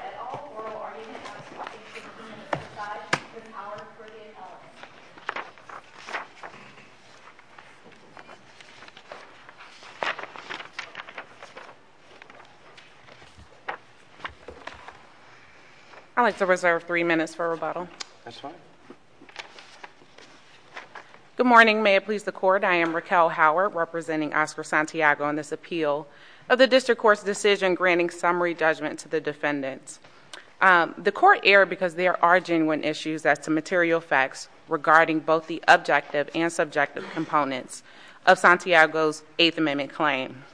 et al. Oral argument of the 16-minute exercise between Howard, Brady, and Ellen. I'd like to reserve three minutes for rebuttal. Good morning. May it please the Court, I am Raquel Howard, representing Oscar Santiago in this appeal of the District Court's decision granting summary judgment to the defendants. The Court erred because there are genuine issues as to material facts regarding both the objective and subjective components of Santiago's Eighth Amendment claim.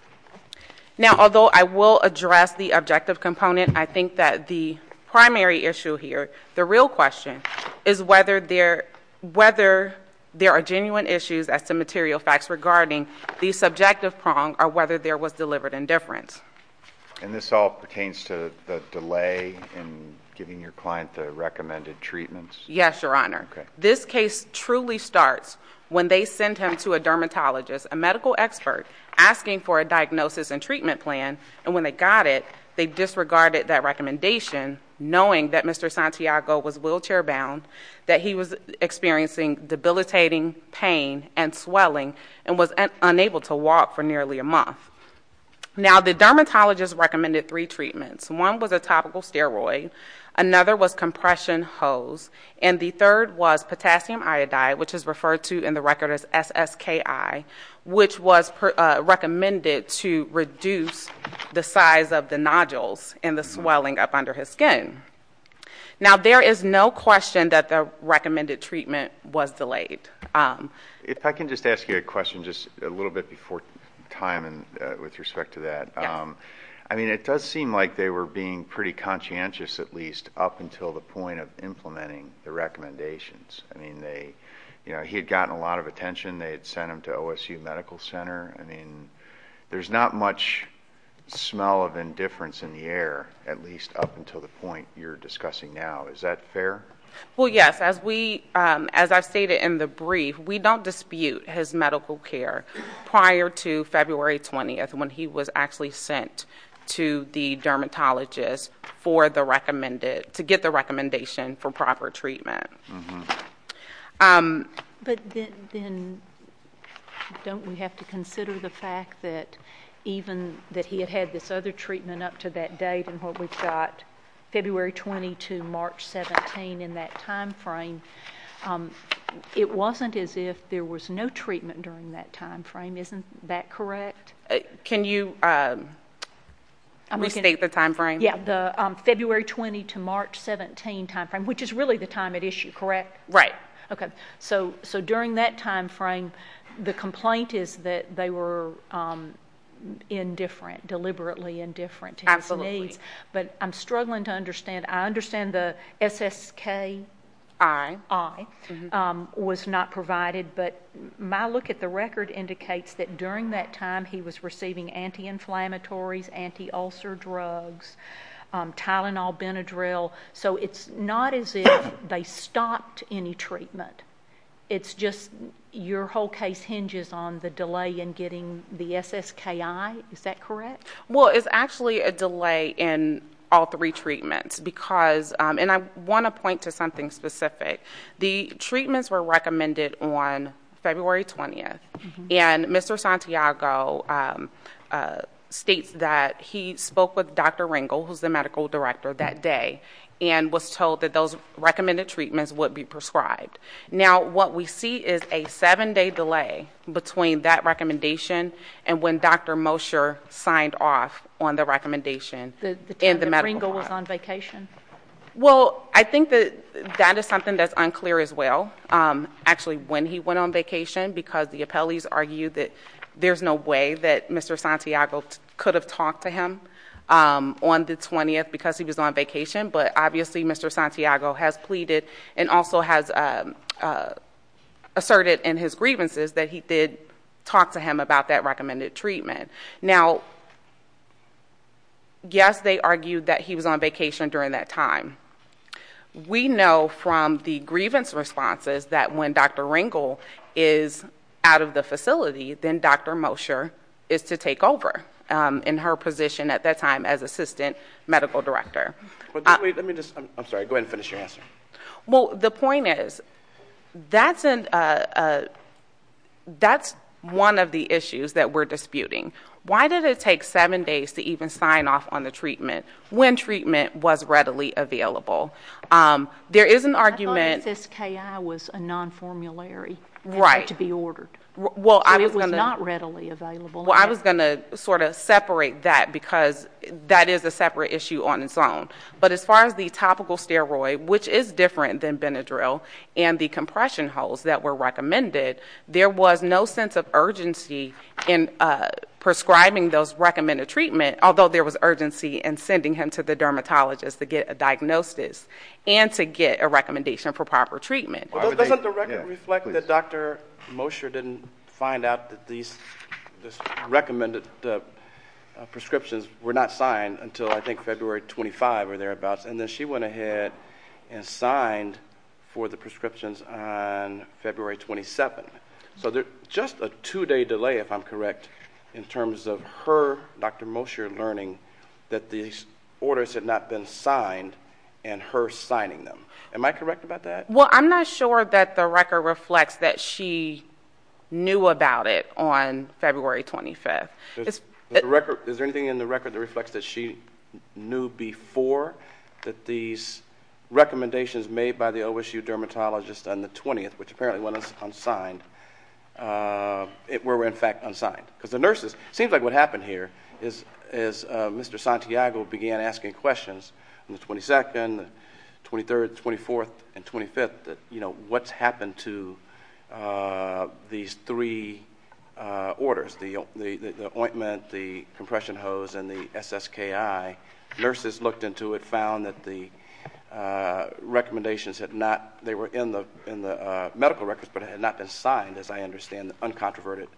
Now, although I will address the objective component, I think that the primary issue here, the real question, is whether there are genuine issues as to material facts regarding the subjective prong or whether there was deliberate indifference. And this all pertains to the delay in giving your client the recommended treatments? Yes, Your Honor. This case truly starts when they send him to a dermatologist, a medical expert, asking for a diagnosis and treatment plan. And when they got it, they disregarded that recommendation knowing that Mr. Santiago was wheelchair-bound, that he was experiencing debilitating pain and swelling, and was unable to walk for nearly a month. Now, the dermatologist recommended three treatments. One was a topical steroid. Another was compression hose. And the third was potassium iodide, which is referred to in the record as SSKI, which was recommended to reduce the size of the nodules and the swelling up under his skin. Now, there is no question that the recommended treatment was delayed. If I can just ask you a question just a little bit before time and with respect to that. Yes. I mean, it does seem like they were being pretty conscientious, at least, up until the point of implementing the recommendations. I mean, they, you know, he had gotten a lot of attention. They had sent him to OSU Medical Center. I mean, there's not much smell of indifference in the air, at least up until the point you're discussing now. Is that fair? Well, yes. As we, as I stated in the brief, we don't dispute his medical care prior to get the recommendation for proper treatment. But then, don't we have to consider the fact that even that he had had this other treatment up to that date and what we've got February 20 to March 17 in that time frame, it wasn't as if there was no treatment during that time frame. Isn't that correct? Can you restate the time frame? Yeah. The February 20 to March 17 time frame, which is really the time at issue, correct? Right. Okay. So during that time frame, the complaint is that they were indifferent, deliberately indifferent to his needs. Absolutely. But I'm struggling to understand. I understand the SSKI was not provided, but my look at the record indicates that during that time, he was receiving anti-inflammatories, anti-ulcer drugs, Tylenol, Benadryl. So it's not as if they stopped any treatment. It's just your whole case hinges on the delay in getting the SSKI. Is that correct? Well, it's actually a delay in all three treatments because, and I want to point to something specific, the treatments were recommended on February 20th. And Mr. Santiago states that he was spoke with Dr. Ringel, who's the medical director that day, and was told that those recommended treatments would be prescribed. Now, what we see is a seven day delay between that recommendation and when Dr. Mosher signed off on the recommendation. The time that Ringel was on vacation. Well, I think that that is something that's unclear as well. Actually, when he went on vacation, because the appellees argued that there's no way that Mr. Santiago could have talked to him on the 20th because he was on vacation. But obviously, Mr. Santiago has pleaded and also has asserted in his grievances that he did talk to him about that recommended treatment. Now, yes, they argued that he was on vacation during that time. We know from the grievance responses that when Dr. Ringel is out of the facility, then Dr. Mosher is to take over in her position at that time as assistant medical director. Let me just, I'm sorry, go ahead and finish your answer. Well, the point is, that's one of the issues that we're disputing. Why did it take seven days to even sign off on the treatment when treatment was readily available? There is an argument- The IAEA was a non-formulary to be ordered. It was not readily available. Well, I was going to sort of separate that because that is a separate issue on its own. But as far as the topical steroid, which is different than Benadryl, and the compression holes that were recommended, there was no sense of urgency in prescribing those recommended treatment, although there was urgency in sending him to the dermatologist to get a diagnosis and to get a recommendation for proper treatment. Doesn't the record reflect that Dr. Mosher didn't find out that these recommended prescriptions were not signed until I think February 25 or thereabouts? And then she went ahead and signed for the prescriptions on February 27. So just a two-day delay, if I'm correct, in her signing them. Am I correct about that? Well, I'm not sure that the record reflects that she knew about it on February 25. Is there anything in the record that reflects that she knew before that these recommendations made by the OSU dermatologist on the 20th, which apparently went unsigned, were in fact unsigned? Because the nurses- It seems like what happened here is Mr. Santiago began asking questions on the 22nd, the 23rd, 24th, and 25th, that what's happened to these three orders, the ointment, the compression hose, and the SSKI. Nurses looked into it, found that the recommendations had not- They were in the medical records, but had not been signed, as I understand, the uncontroverted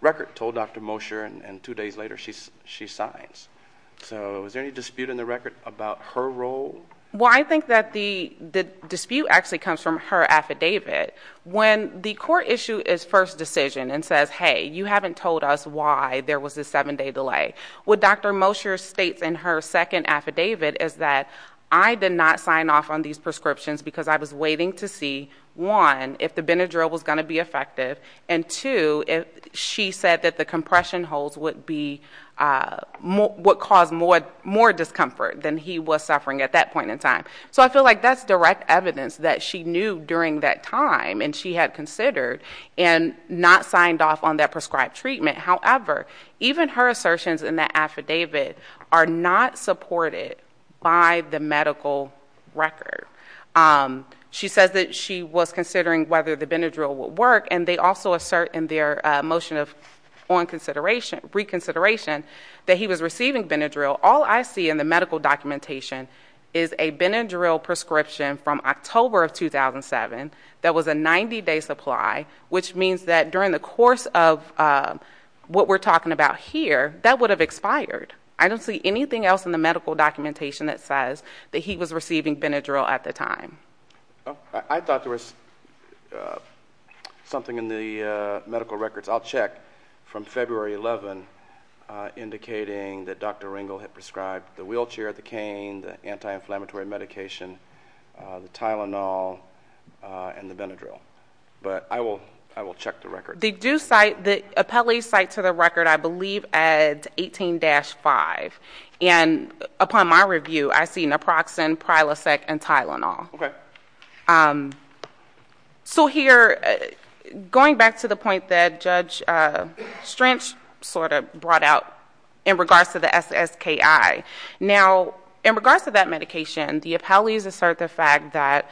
record, told Dr. Mosher, and two days later, she signs. So is there any dispute in the record about her role? Well, I think that the dispute actually comes from her affidavit. When the court issue its first decision and says, hey, you haven't told us why there was this seven-day delay. What Dr. Mosher states in her second affidavit is that I did not sign off on these prescriptions because I was waiting to see, one, if the Benadryl was going to be effective, and two, she said that the compression hose would cause more discomfort than he was suffering at that point in time. So I feel like that's direct evidence that she knew during that time and she had considered and not signed off on that prescribed treatment. However, even her assertions in that affidavit are not supported by the medical record. She says that she was considering whether the Benadryl would work, and they also assert in their motion of reconsideration that he was receiving Benadryl. All I see in the medical documentation is a Benadryl prescription from October of 2007 that was a 90-day supply, which means that during the course of what we're talking about here, that would have expired. I don't see anything else in the medical documentation that says that he was receiving Benadryl. I thought there was something in the medical records. I'll check from February 11, indicating that Dr. Ringel had prescribed the wheelchair, the cane, the anti-inflammatory medication, the Tylenol, and the Benadryl. But I will check the record. They do cite, the appellees cite to the record, I believe at 18-5, and upon my review, I see that. So here, going back to the point that Judge Strange sort of brought out in regards to the SSKI, now, in regards to that medication, the appellees assert the fact that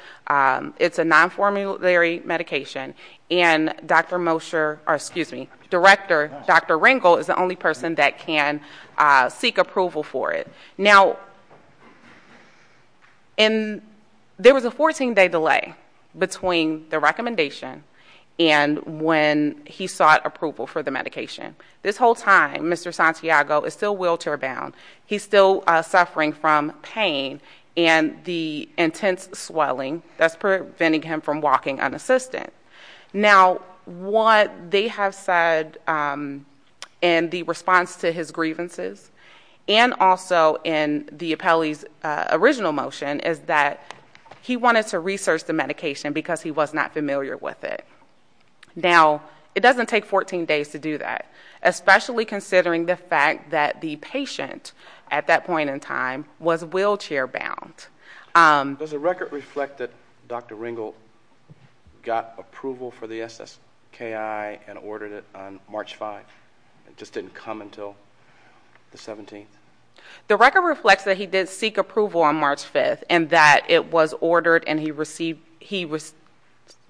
it's a non-formulary medication, and Dr. Mosher, or excuse me, Director Dr. Ringel is the only person that can seek approval for it. Now, in, there was a 14-day delay. There was a delay between the recommendation and when he sought approval for the medication. This whole time, Mr. Santiago is still wheelchair-bound. He's still suffering from pain and the intense swelling that's preventing him from walking unassisted. Now, what they have said in the response to his grievances, and also in the appellee's original motion, is that he wanted to research the medication because he was not familiar with it. Now, it doesn't take 14 days to do that, especially considering the fact that the patient, at that point in time, was wheelchair-bound. Does the record reflect that Dr. Ringel got approval for the SSKI and ordered it on March 5? It just didn't come until the 17th? The record reflects that he did seek approval on March 5th, and that it was ordered, and he received, he was,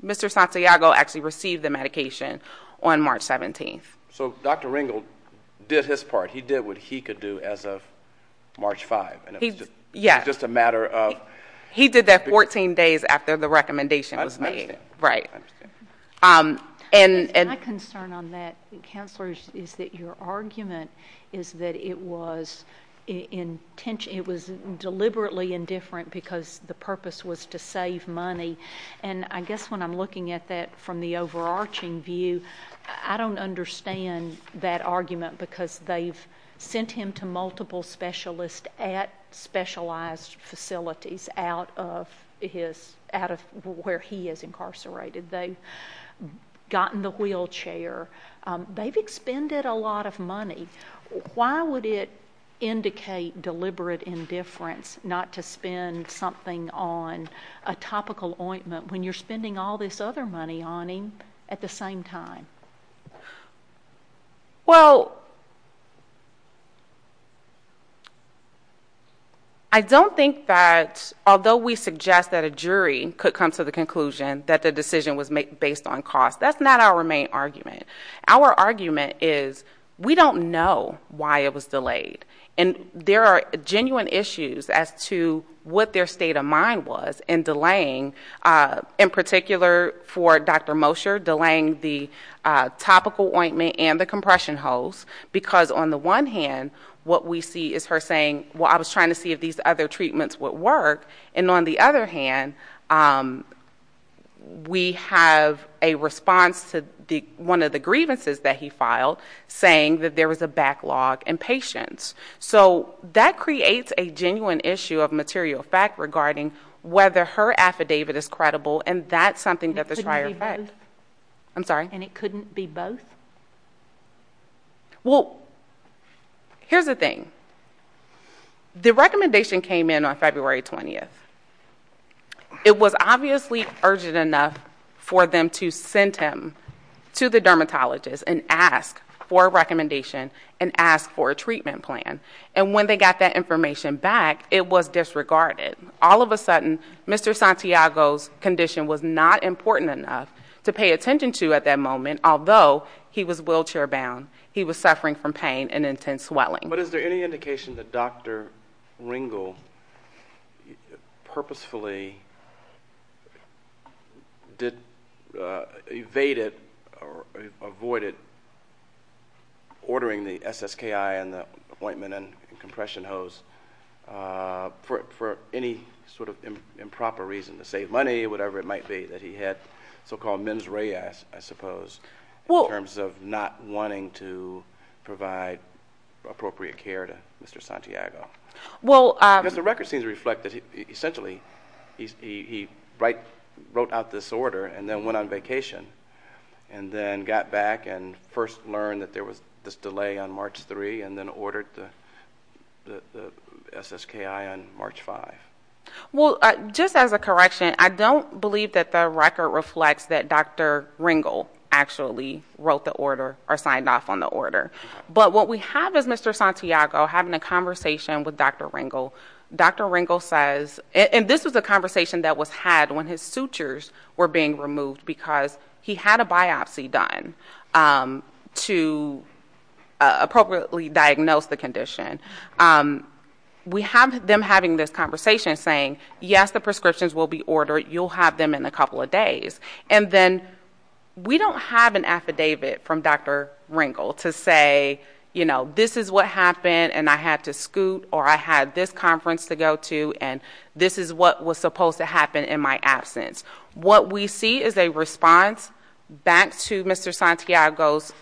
Mr. Santiago actually received the medication on March 17th. So Dr. Ringel did his part. He did what he could do as of March 5th, and it was just a matter of... He did that 14 days after the recommendation was made. I understand. Right. I understand. My understanding on that, Counselor, is that your argument is that it was deliberately indifferent because the purpose was to save money, and I guess when I'm looking at that from the overarching view, I don't understand that argument because they've sent him to multiple specialists at specialized facilities out of where he is incarcerated. They've gotten the wheelchair. They've expended a lot of money. Why would it indicate deliberate indifference not to spend something on a topical ointment when you're spending all this other money on him at the same time? I don't think that, although we suggest that a jury could come to the conclusion that the treatment was delayed, that's not our main argument. Our argument is we don't know why it was delayed, and there are genuine issues as to what their state of mind was in delaying, in particular for Dr. Mosher, delaying the topical ointment and the compression hose because on the one hand, what we see is her saying, well, I was trying to see if these other treatments would work, and on the other hand, we have a response to the fact that one of the grievances that he filed saying that there was a backlog in patients. So that creates a genuine issue of material fact regarding whether her affidavit is credible, and that's something that the Shrier effect... It couldn't be both? I'm sorry? And it couldn't be both? Well, here's the thing. The recommendation came in on February 20th. It was obviously urgent enough for them to send him to the dermatologist and ask for a recommendation and ask for a treatment plan, and when they got that information back, it was disregarded. All of a sudden, Mr. Santiago's condition was not important enough to pay attention to at that moment, although he was wheelchair-bound. He was suffering from pain and intense swelling. But is there any indication that Dr. Ringel purposefully evaded or avoided ordering the SSKI and the ointment and compression hose for any sort of improper reason, to save money, whatever it might be, that he had so-called mens rea, I suppose, in terms of not wanting to provide appropriate care to Mr. Santiago? Well... Because the record seems to reflect that, essentially, he wrote out this order and then went on vacation and then got back and first learned that there was this delay on March 3 and then ordered the SSKI on March 5. Well, just as a correction, I don't believe that the record reflects that Dr. Ringel actually wrote the order or signed off on the order. But what we have is Mr. Santiago having a conversation with Dr. Ringel. Dr. Ringel says... And this was a conversation that was had when his sutures were being removed because he had a biopsy done to appropriately diagnose the condition. We have them having this conversation saying, yes, the prescriptions will be ordered. You'll have them in a couple of days. And then we don't have an affidavit from Dr. Ringel to say, you know, this is what happened and I had to scoot or I had this conference to go to and this is what was supposed to happen in my absence. What we see is a response back to Mr. Santiago's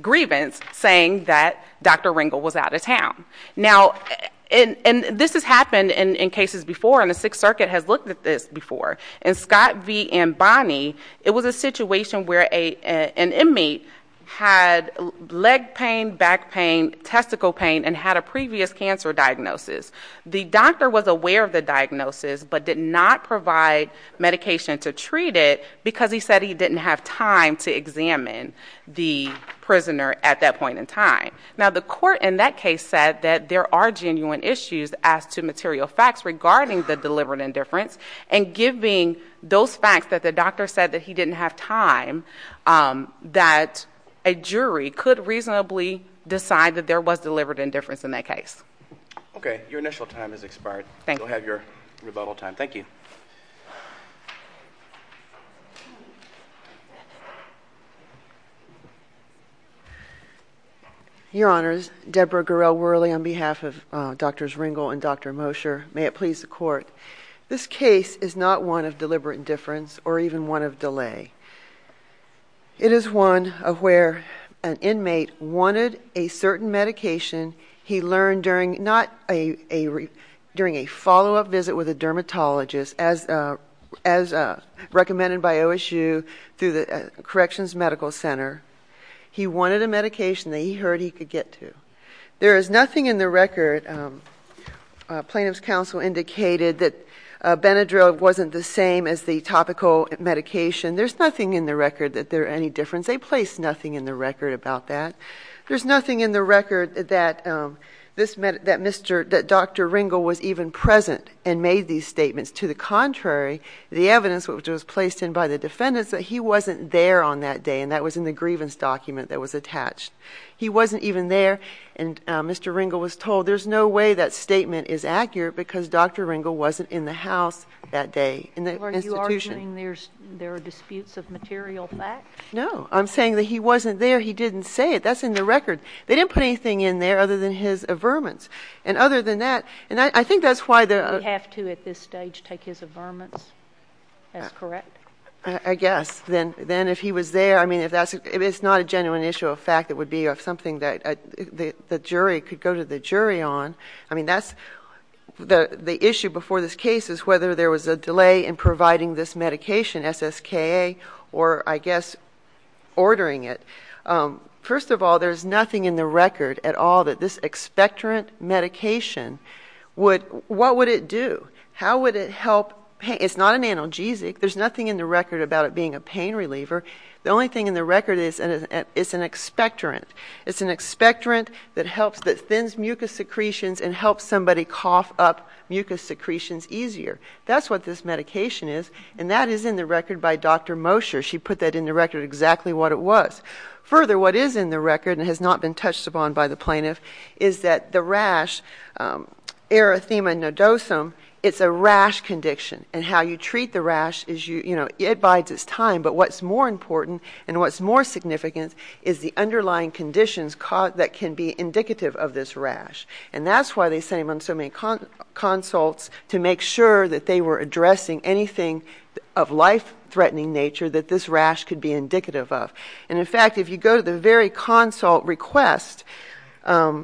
grievance, saying that Dr. Ringel was out of town. Now, and this has happened in cases before and the Sixth Circuit has looked at this before. In Scott v. Ambani, it was a situation where an inmate had leg pain, back pain, testicle pain and had a previous cancer diagnosis. The doctor was aware of the diagnosis but did not provide medication to treat it because he said he didn't have time to examine the prisoner at that point in time. Now, the court in that case said that there are genuine issues as to material facts regarding the delivered indifference and giving those facts that the doctor said that he didn't have time, that a jury could reasonably decide that there was delivered indifference in that case. Okay. Your initial time has expired. Thank you. You'll have your rebuttal time. Thank you. Your Honors, Debra Gurrell Worley on behalf of Drs. Ringel and Dr. Mosher, may it please the Court. This case is not one of deliberate indifference or even one of delay. It is one of where an inmate wanted a certain medication he learned during a follow-up visit with a dermatologist as recommended by OSU through the Corrections Medical Center. He wanted a medication that he heard he could get to. There is nothing in the record, Plaintiff's Counsel indicated, that Benadryl wasn't the same as the topical medication. There's nothing in the record that there's any difference. They placed nothing in the record about that. There's nothing in the record that Dr. Ringel was even present and made these statements. To the contrary, the evidence which was placed in by the defendants that he wasn't there on that day, and that was in the grievance document that was attached. He wasn't even there, and Mr. Ringel was told, there's no way that statement is accurate because Dr. Ringel wasn't in the House that day, in the institution. Are you arguing there are disputes of material fact? No. I'm saying that he wasn't there. He didn't say it. That's in the record. They didn't put anything in there other than his averments. And other than that, and I think that's why the— We have to, at this stage, take his averments as correct? I guess. Then if he was there, I mean, it's not a genuine issue of fact. It would be something that the jury could go to the jury on. I mean, that's—the issue before this case is whether there was a delay in providing this medication, SSKA, or, I guess, ordering it. First of all, there's nothing in the record at all that this expectorant medication would— What would it do? How would it help? It's not an analgesic. There's nothing in the record about it being a pain reliever. The only thing in the record is it's an expectorant. It's an expectorant that helps—that thins mucus secretions and helps somebody cough up mucus secretions easier. That's what this medication is, and that is in the record by Dr. Mosher. She put that in the record exactly what it was. Further, what is in the record and has not been touched upon by the plaintiff is that the rash, erythema nodosum, it's a rash condition. How you treat the rash is you—it bides its time, but what's more important and what's more significant is the underlying conditions that can be indicative of this rash. That's why they sent him on so many consults to make sure that they were addressing anything of life-threatening nature that this rash could be indicative of. In fact, if you go to the very consult request, which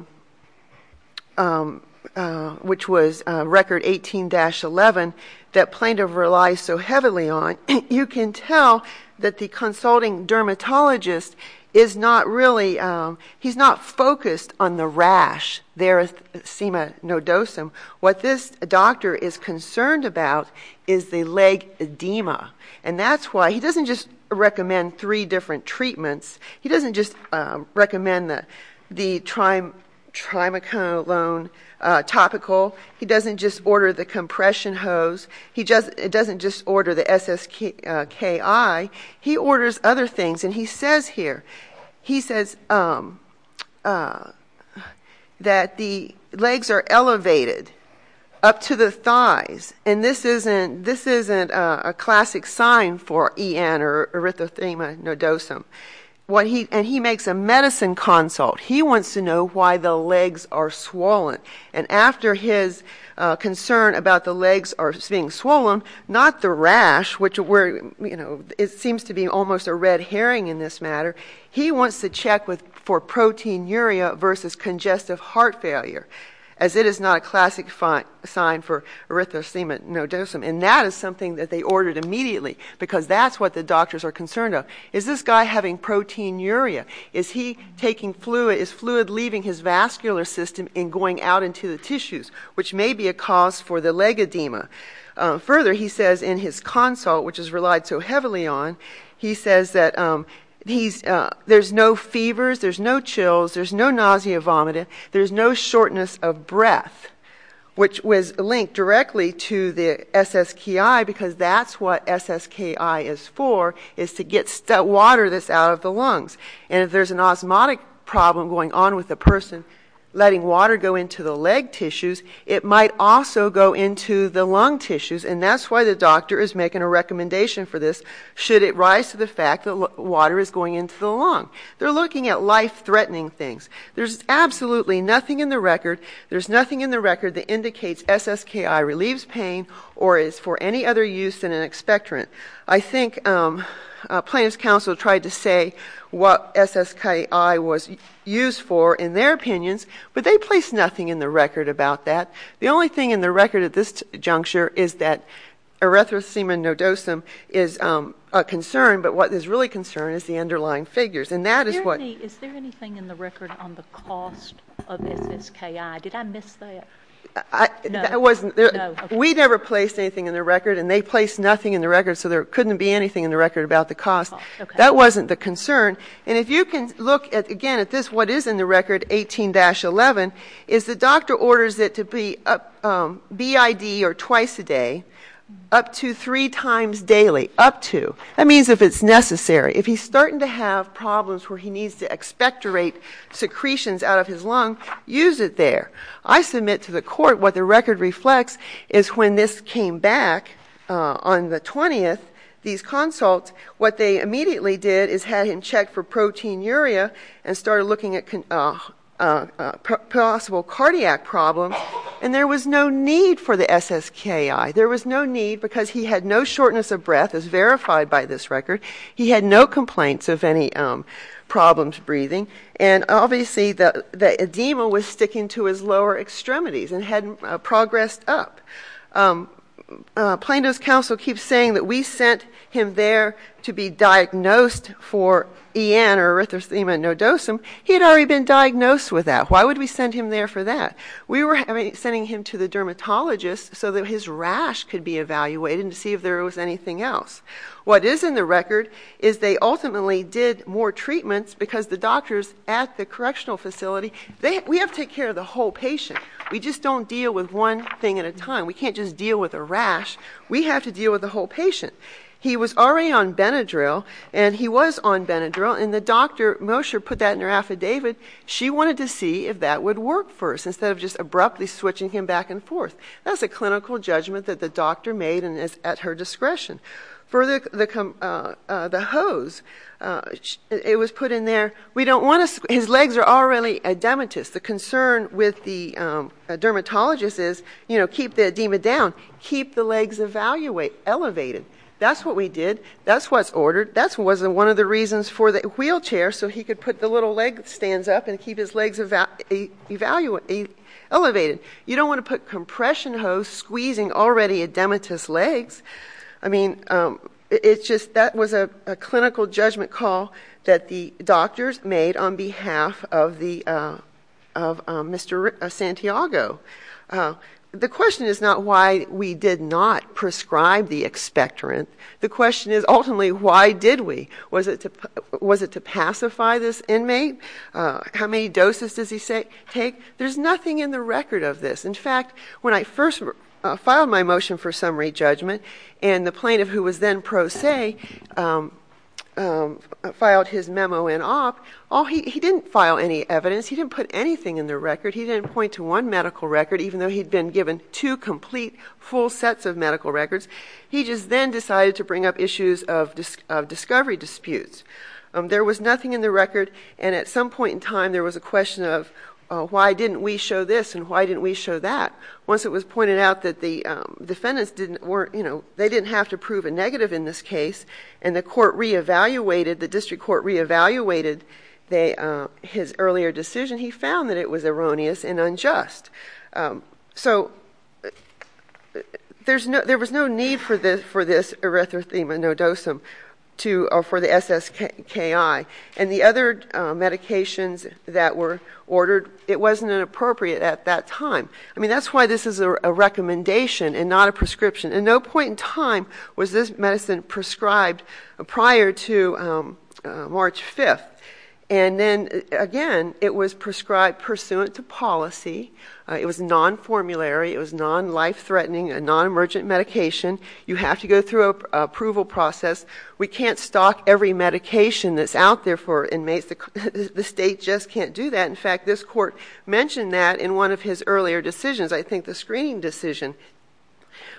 was record 18-11, that plaintiff relies so heavily on, you can tell that the consulting dermatologist is not really—he's not focused on the rash, erythema nodosum. What this doctor is concerned about is the leg edema, and that's why he doesn't just recommend the treatments. He doesn't just recommend the Trimacolone topical. He doesn't just order the compression hose. He doesn't just order the SSKI. He orders other things, and he says here, he says that the legs are elevated up to the And he makes a medicine consult. He wants to know why the legs are swollen. And after his concern about the legs being swollen, not the rash, which seems to be almost a red herring in this matter. He wants to check for proteinuria versus congestive heart failure, as it is not a classic sign for erythema nodosum, and that is something that they ordered immediately because that's what the doctors are concerned about. Is this guy having proteinuria? Is he taking fluid? Is fluid leaving his vascular system and going out into the tissues, which may be a cause for the leg edema? Further, he says in his consult, which is relied so heavily on, he says that there's no fevers, there's no chills, there's no nausea, vomiting, there's no shortness of breath, which was linked directly to the SSKI because that's what SSKI is for, is to get water that's out of the lungs. And if there's an osmotic problem going on with a person letting water go into the leg tissues, it might also go into the lung tissues, and that's why the doctor is making a recommendation for this, should it rise to the fact that water is going into the lung. They're looking at life-threatening things. There's absolutely nothing in the record. There's nothing in the record that indicates SSKI relieves pain or is for any other use than an expectorant. I think plaintiff's counsel tried to say what SSKI was used for in their opinions, but they placed nothing in the record about that. The only thing in the record at this juncture is that erythrocema nodosum is a concern, but what is really a concern is the underlying figures. And that is what... Did I miss the... No. No. We never placed anything in the record, and they placed nothing in the record, so there couldn't be anything in the record about the cost. That wasn't the concern. And if you can look, again, at this, what is in the record, 18-11, is the doctor orders it to be BID or twice a day, up to three times daily, up to. That means if it's necessary. If he's starting to have problems where he needs to expectorate secretions out of his air. I submit to the court what the record reflects is when this came back on the 20th, these consults, what they immediately did is had him check for proteinuria and started looking at possible cardiac problems, and there was no need for the SSKI. There was no need because he had no shortness of breath, as verified by this record. He had no complaints of any problems breathing. And obviously, the edema was sticking to his lower extremities and hadn't progressed up. Plano's counsel keeps saying that we sent him there to be diagnosed for EN or erythrocema nodosum. He had already been diagnosed with that. Why would we send him there for that? We were sending him to the dermatologist so that his rash could be evaluated and to see if there was anything else. What is in the record is they ultimately did more treatments because the doctors at the correctional facility, we have to take care of the whole patient. We just don't deal with one thing at a time. We can't just deal with a rash. We have to deal with the whole patient. He was already on Benadryl, and he was on Benadryl, and the doctor put that in her affidavit. She wanted to see if that would work for us instead of just abruptly switching him back and forth. That's a clinical judgment that the doctor made and is at her discretion. For the hose, it was put in there. We don't want to squeeze. His legs are already edematous. The concern with the dermatologist is, you know, keep the edema down. Keep the legs elevated. That's what we did. That's what's ordered. That wasn't one of the reasons for the wheelchair so he could put the little leg stands up and keep his legs elevated. You don't want to put compression hose squeezing already edematous legs. I mean, it's just that was a clinical judgment call that the doctors made on behalf of Mr. Santiago. The question is not why we did not prescribe the expectorant. The question is, ultimately, why did we? Was it to pacify this inmate? How many doses does he take? There's nothing in the record of this. In fact, when I first filed my motion for summary judgment and the plaintiff who was then pro se filed his memo in op, he didn't file any evidence. He didn't put anything in the record. He didn't point to one medical record even though he had been given two complete full sets of medical records. He just then decided to bring up issues of discovery disputes. There was nothing in the record and at some point in time there was a question of why didn't we show this and why didn't we show that? Once it was pointed out that the defendants didn't have to prove a negative in this case and the court reevaluated, the district court reevaluated his earlier decision, he found that it was erroneous and unjust. There was no need for this erythrothema nodosum for the SSKI. The other medications that were ordered, it wasn't appropriate at that time. That's why this is a recommendation and not a prescription. No point in time was this medicine prescribed prior to March 5th. Then again, it was prescribed pursuant to policy. It was non-formulary. It was non-life-threatening, a non-emergent medication. You have to go through an approval process. We can't stock every medication that's out there for inmates. The state just can't do that. In fact, this court mentioned that in one of his earlier decisions. I think the screening decision.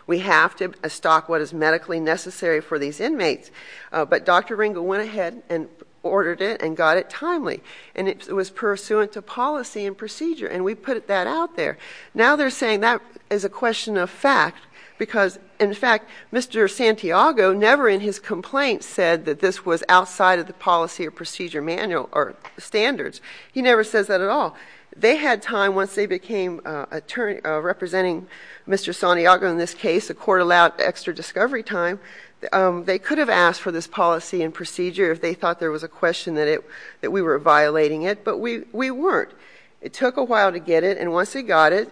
We have to stock what is medically necessary for these inmates, but Dr. Ringo went ahead and ordered it and got it timely. It was pursuant to policy and procedure and we put that out there. Now they're saying that is a question of fact because in fact, Mr. Santiago, never in his complaint said that this was outside of the policy or procedure manual or standards. He never says that at all. They had time once they became representing Mr. Santiago in this case. The court allowed extra discovery time. They could have asked for this policy and procedure if they thought there was a question that we were violating it, but we weren't. It took a while to get it and once he got it,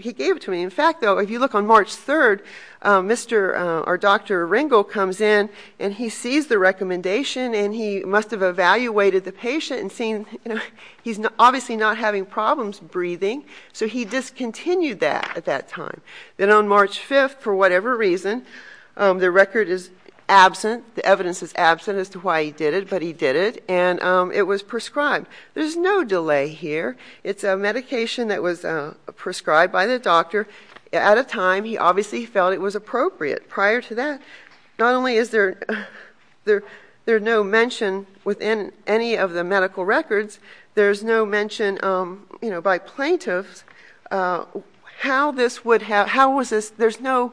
he gave it to me. In fact, though, if you look on March 3rd, Dr. Ringo comes in and he sees the recommendation and he must have evaluated the patient and seen he's obviously not having problems breathing, so he discontinued that at that time. Then on March 5th, for whatever reason, the record is absent, the evidence is absent as to why he did it, but he did it and it was prescribed. There's no delay here. It's a medication that was prescribed by the doctor at a time he obviously felt it was appropriate. Prior to that, not only is there no mention within any of the medical records, there's no mention by plaintiffs how this would have, how was this, there's no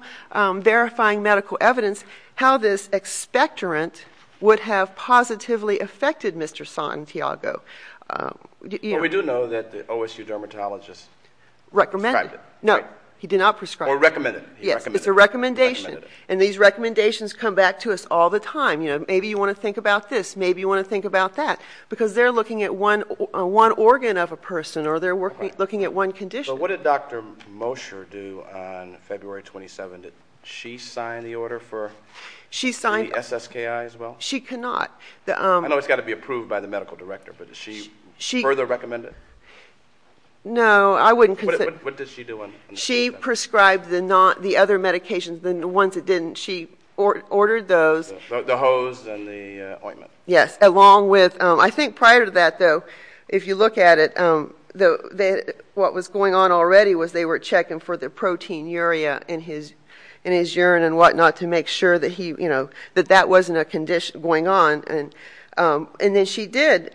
verifying medical evidence how this expectorant would have positively affected Mr. Santiago. We do know that the OSU dermatologist prescribed it. No, he did not prescribe it. Or recommended it. Yes, it's a recommendation and these recommendations come back to us all the time. Maybe you want to think about this, maybe you want to think about that, because they're looking at one organ of a person or they're looking at one condition. What did Dr. Mosher do on February 27th? She signed the order for the SSKI as well? She cannot. I know it's got to be approved by the medical director, but does she further recommend it? No, I wouldn't. What did she do? She prescribed the other medications, the ones that didn't. She ordered those. The hose and the ointment. Yes, along with, I think prior to that though, if you look at it, what was going on already was they were checking for the protein urea in his urine and whatnot to make sure that that wasn't a condition going on. And then she did,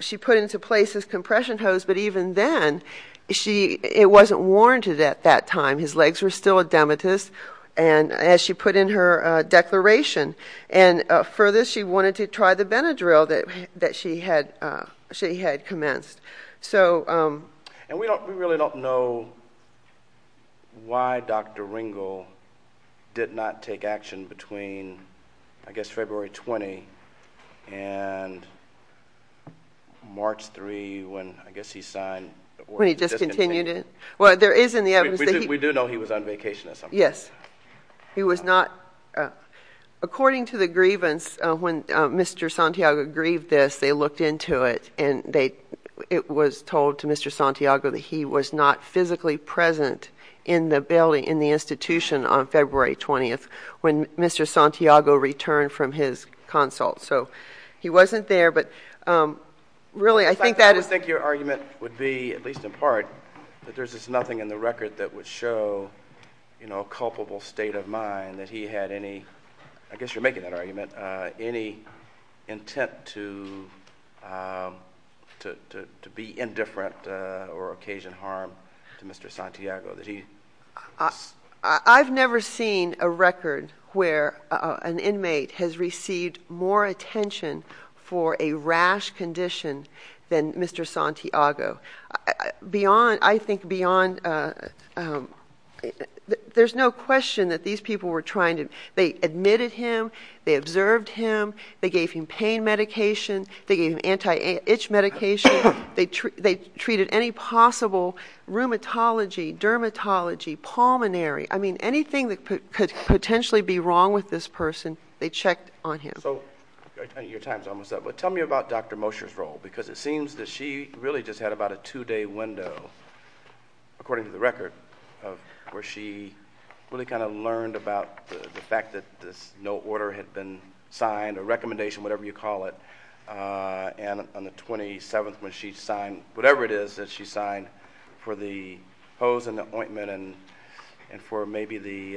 she put into place his compression hose, but even then, it wasn't warranted at that time. His legs were still edematous. And as she put in her declaration. And further, she wanted to try the Benadryl that she had commenced. And we really don't know why Dr. Ringel did not take action between, I guess, February 20 and March 3 when, I guess, he signed the order. When he discontinued it? Well, there is in the evidence that he- We do know he was on vacation or something. Yes. He was not, according to the grievance, when Mr. Santiago grieved this, they looked into it and it was told to Mr. Santiago that he was not physically present in the building, in the institution on February 20 when Mr. Santiago returned from his consult. So he wasn't there, but really, I think that is- I think your argument would be, at least in part, that there's just nothing in the record that would show a culpable state of mind that he had any, I guess you're making that argument, any intent to be indifferent or occasion harm to Mr. Santiago, that he- I've never seen a record where an inmate has received more attention for a rash condition than Mr. Santiago. I think beyond- There's no question that these people were trying to- They admitted him, they observed him, they gave him pain medication, they gave him anti-itch medication, they treated any possible rheumatology, dermatology, pulmonary, I mean, anything that could potentially be wrong with this person, they checked on him. So, your time's almost up, but tell me about Dr. Mosher's role, because it seems that she really just had about a two-day window, according to the record, where she really kind of learned about the fact that no order had been signed, a recommendation, whatever you call it, and on the 27th, when she signed, whatever it is that she signed, for the hose and the ointment and for maybe the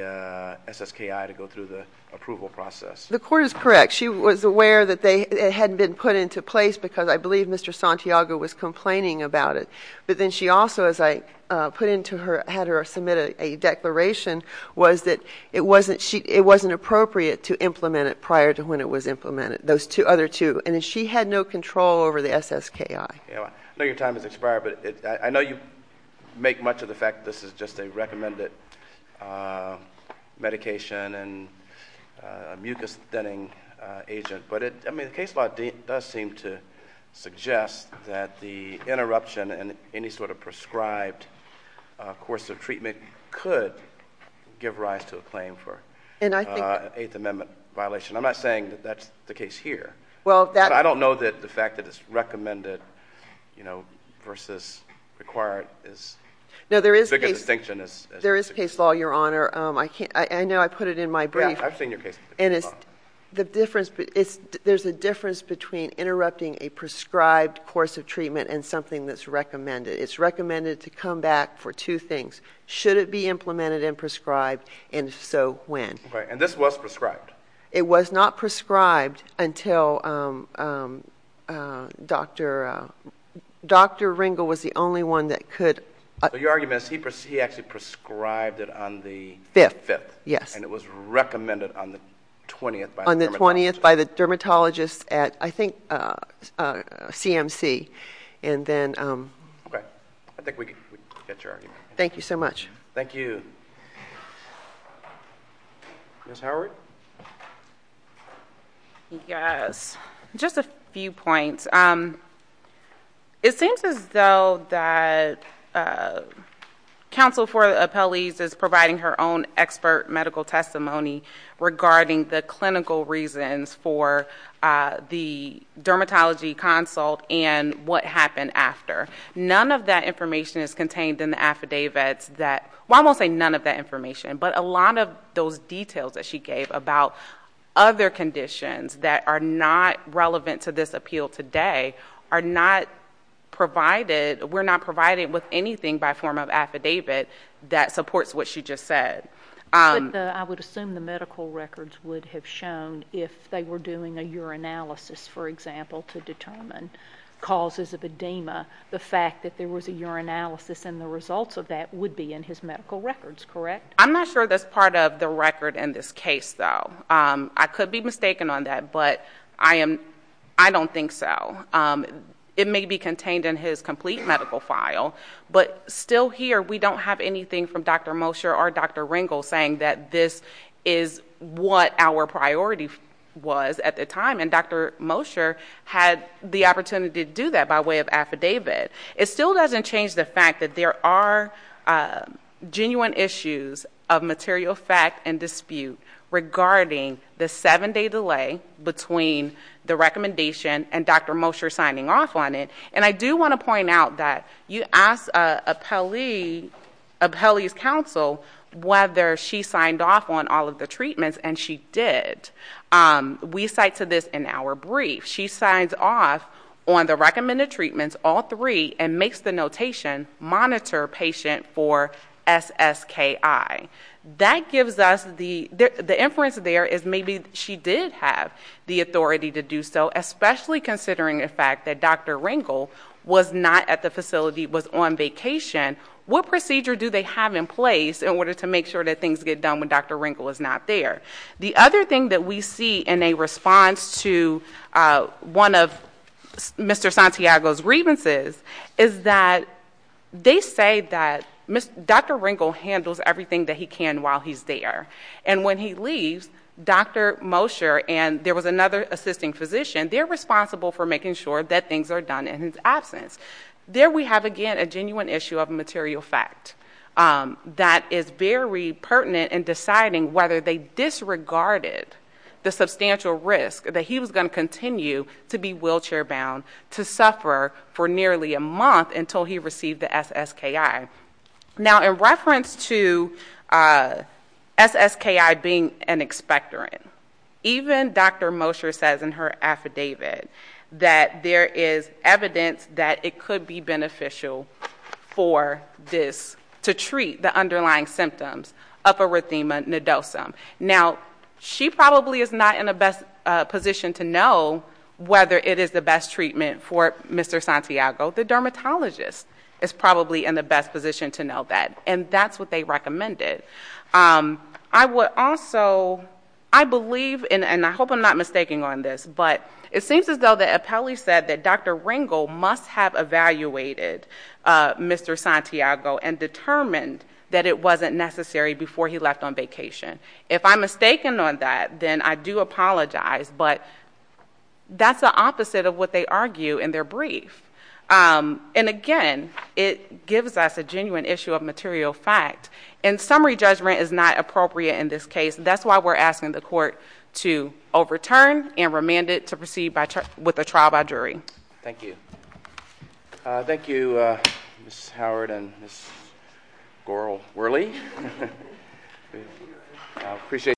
SSKI to go through the approval process. The court is correct. She was aware that it hadn't been put into place because I believe Mr. Santiago was complaining about it. But then she also, as I put into her- had her submit a declaration, was that it wasn't appropriate to implement it prior to when it was implemented, those other two. And she had no control over the SSKI. I know your time has expired, but I know you make much of the fact that this is just a recommended medication and a mucus thinning agent, but it- I mean, the case law does seem to suggest that the interruption in any sort of prescribed course of treatment could give rise to a claim for an Eighth Amendment violation. I'm not saying that that's the case here, but I don't know that the fact that it's recommended, you know, versus required is the biggest distinction. There is case law, Your Honor. I can't- I know I put it in my brief- Yeah, I've seen your case law. And it's- the difference- there's a difference between interrupting a prescribed course of treatment and something that's recommended. It's recommended to come back for two things. Should it be implemented and prescribed, and if so, when? Right. And this was prescribed. It was not prescribed until Dr.- Dr. Ringel was the only one that could- So your argument is he actually prescribed it on the- Fifth. Yes. And it was recommended on the 20th by the dermatologist. On the 20th by the dermatologist at, I think, CMC. And then- Okay. I think we get your argument. Thank you so much. Thank you. Ms. Howard? Yes. Just a few points. It seems as though that counsel for the appellees is providing her own expert medical testimony regarding the clinical reasons for the dermatology consult and what happened after. None of that information is contained in the affidavits that- well, I won't say none of that information, but a lot of those details that she gave about other conditions that are not relevant to this appeal today are not provided- we're not provided with anything by form of affidavit that supports what she just said. I would assume the medical records would have shown, if they were doing a urinalysis, for example, to determine causes of edema, the fact that there was a urinalysis and the results of that would be in his medical records, correct? I'm not sure that's part of the record in this case, though. I could be mistaken on that, but I don't think so. It may be contained in his complete medical file, but still here, we don't have anything from Dr. Mosher or Dr. Ringel saying that this is what our priority was at the time, and Dr. Mosher had the opportunity to do that by way of affidavit. It still doesn't change the fact that there are genuine issues of material fact and dispute regarding the seven-day delay between the recommendation and Dr. Mosher signing off on it. And I do want to point out that you asked Apelli's counsel whether she signed off on all of the treatments, and she did. We cite to this in our brief. She signs off on the recommended treatments, all three, and makes the notation monitor patient for SSKI. That gives us the inference there is maybe she did have the authority to do so, especially considering the fact that Dr. Ringel was not at the facility, was on vacation. What procedure do they have in place in order to make sure that things get done when Dr. Ringel is not there? The other thing that we see in a response to one of Mr. Santiago's grievances is that they say that Dr. Ringel handles everything that he can while he's there. And when he leaves, Dr. Mosher and there was another assisting physician, they're responsible for making sure that things are done in his absence. There we have, again, a genuine issue of material fact that is very pertinent in deciding whether they disregarded the substantial risk that he was going to continue to be wheelchair-bound to suffer for nearly a month until he received the SSKI. Now in reference to SSKI being an expectorant, even Dr. Mosher says in her affidavit that there is evidence that it could be beneficial for this to treat the underlying symptoms of erythema nodosum. Now, she probably is not in a best position to know whether it is the best treatment for Mr. Santiago. The dermatologist is probably in the best position to know that. And that's what they recommended. I would also, I believe, and I hope I'm not mistaking on this, but it seems as though the appellee said that Dr. Ringel must have evaluated Mr. Santiago and determined that it wasn't necessary before he left on vacation. If I'm mistaken on that, then I do apologize. But that's the opposite of what they argue in their brief. And again, it gives us a genuine issue of material fact. And summary judgment is not appropriate in this case. That's why we're asking the court to overturn and remand it to proceed with a trial by jury. Thank you. Thank you, Ms. Howard and Ms. Goral-Werley.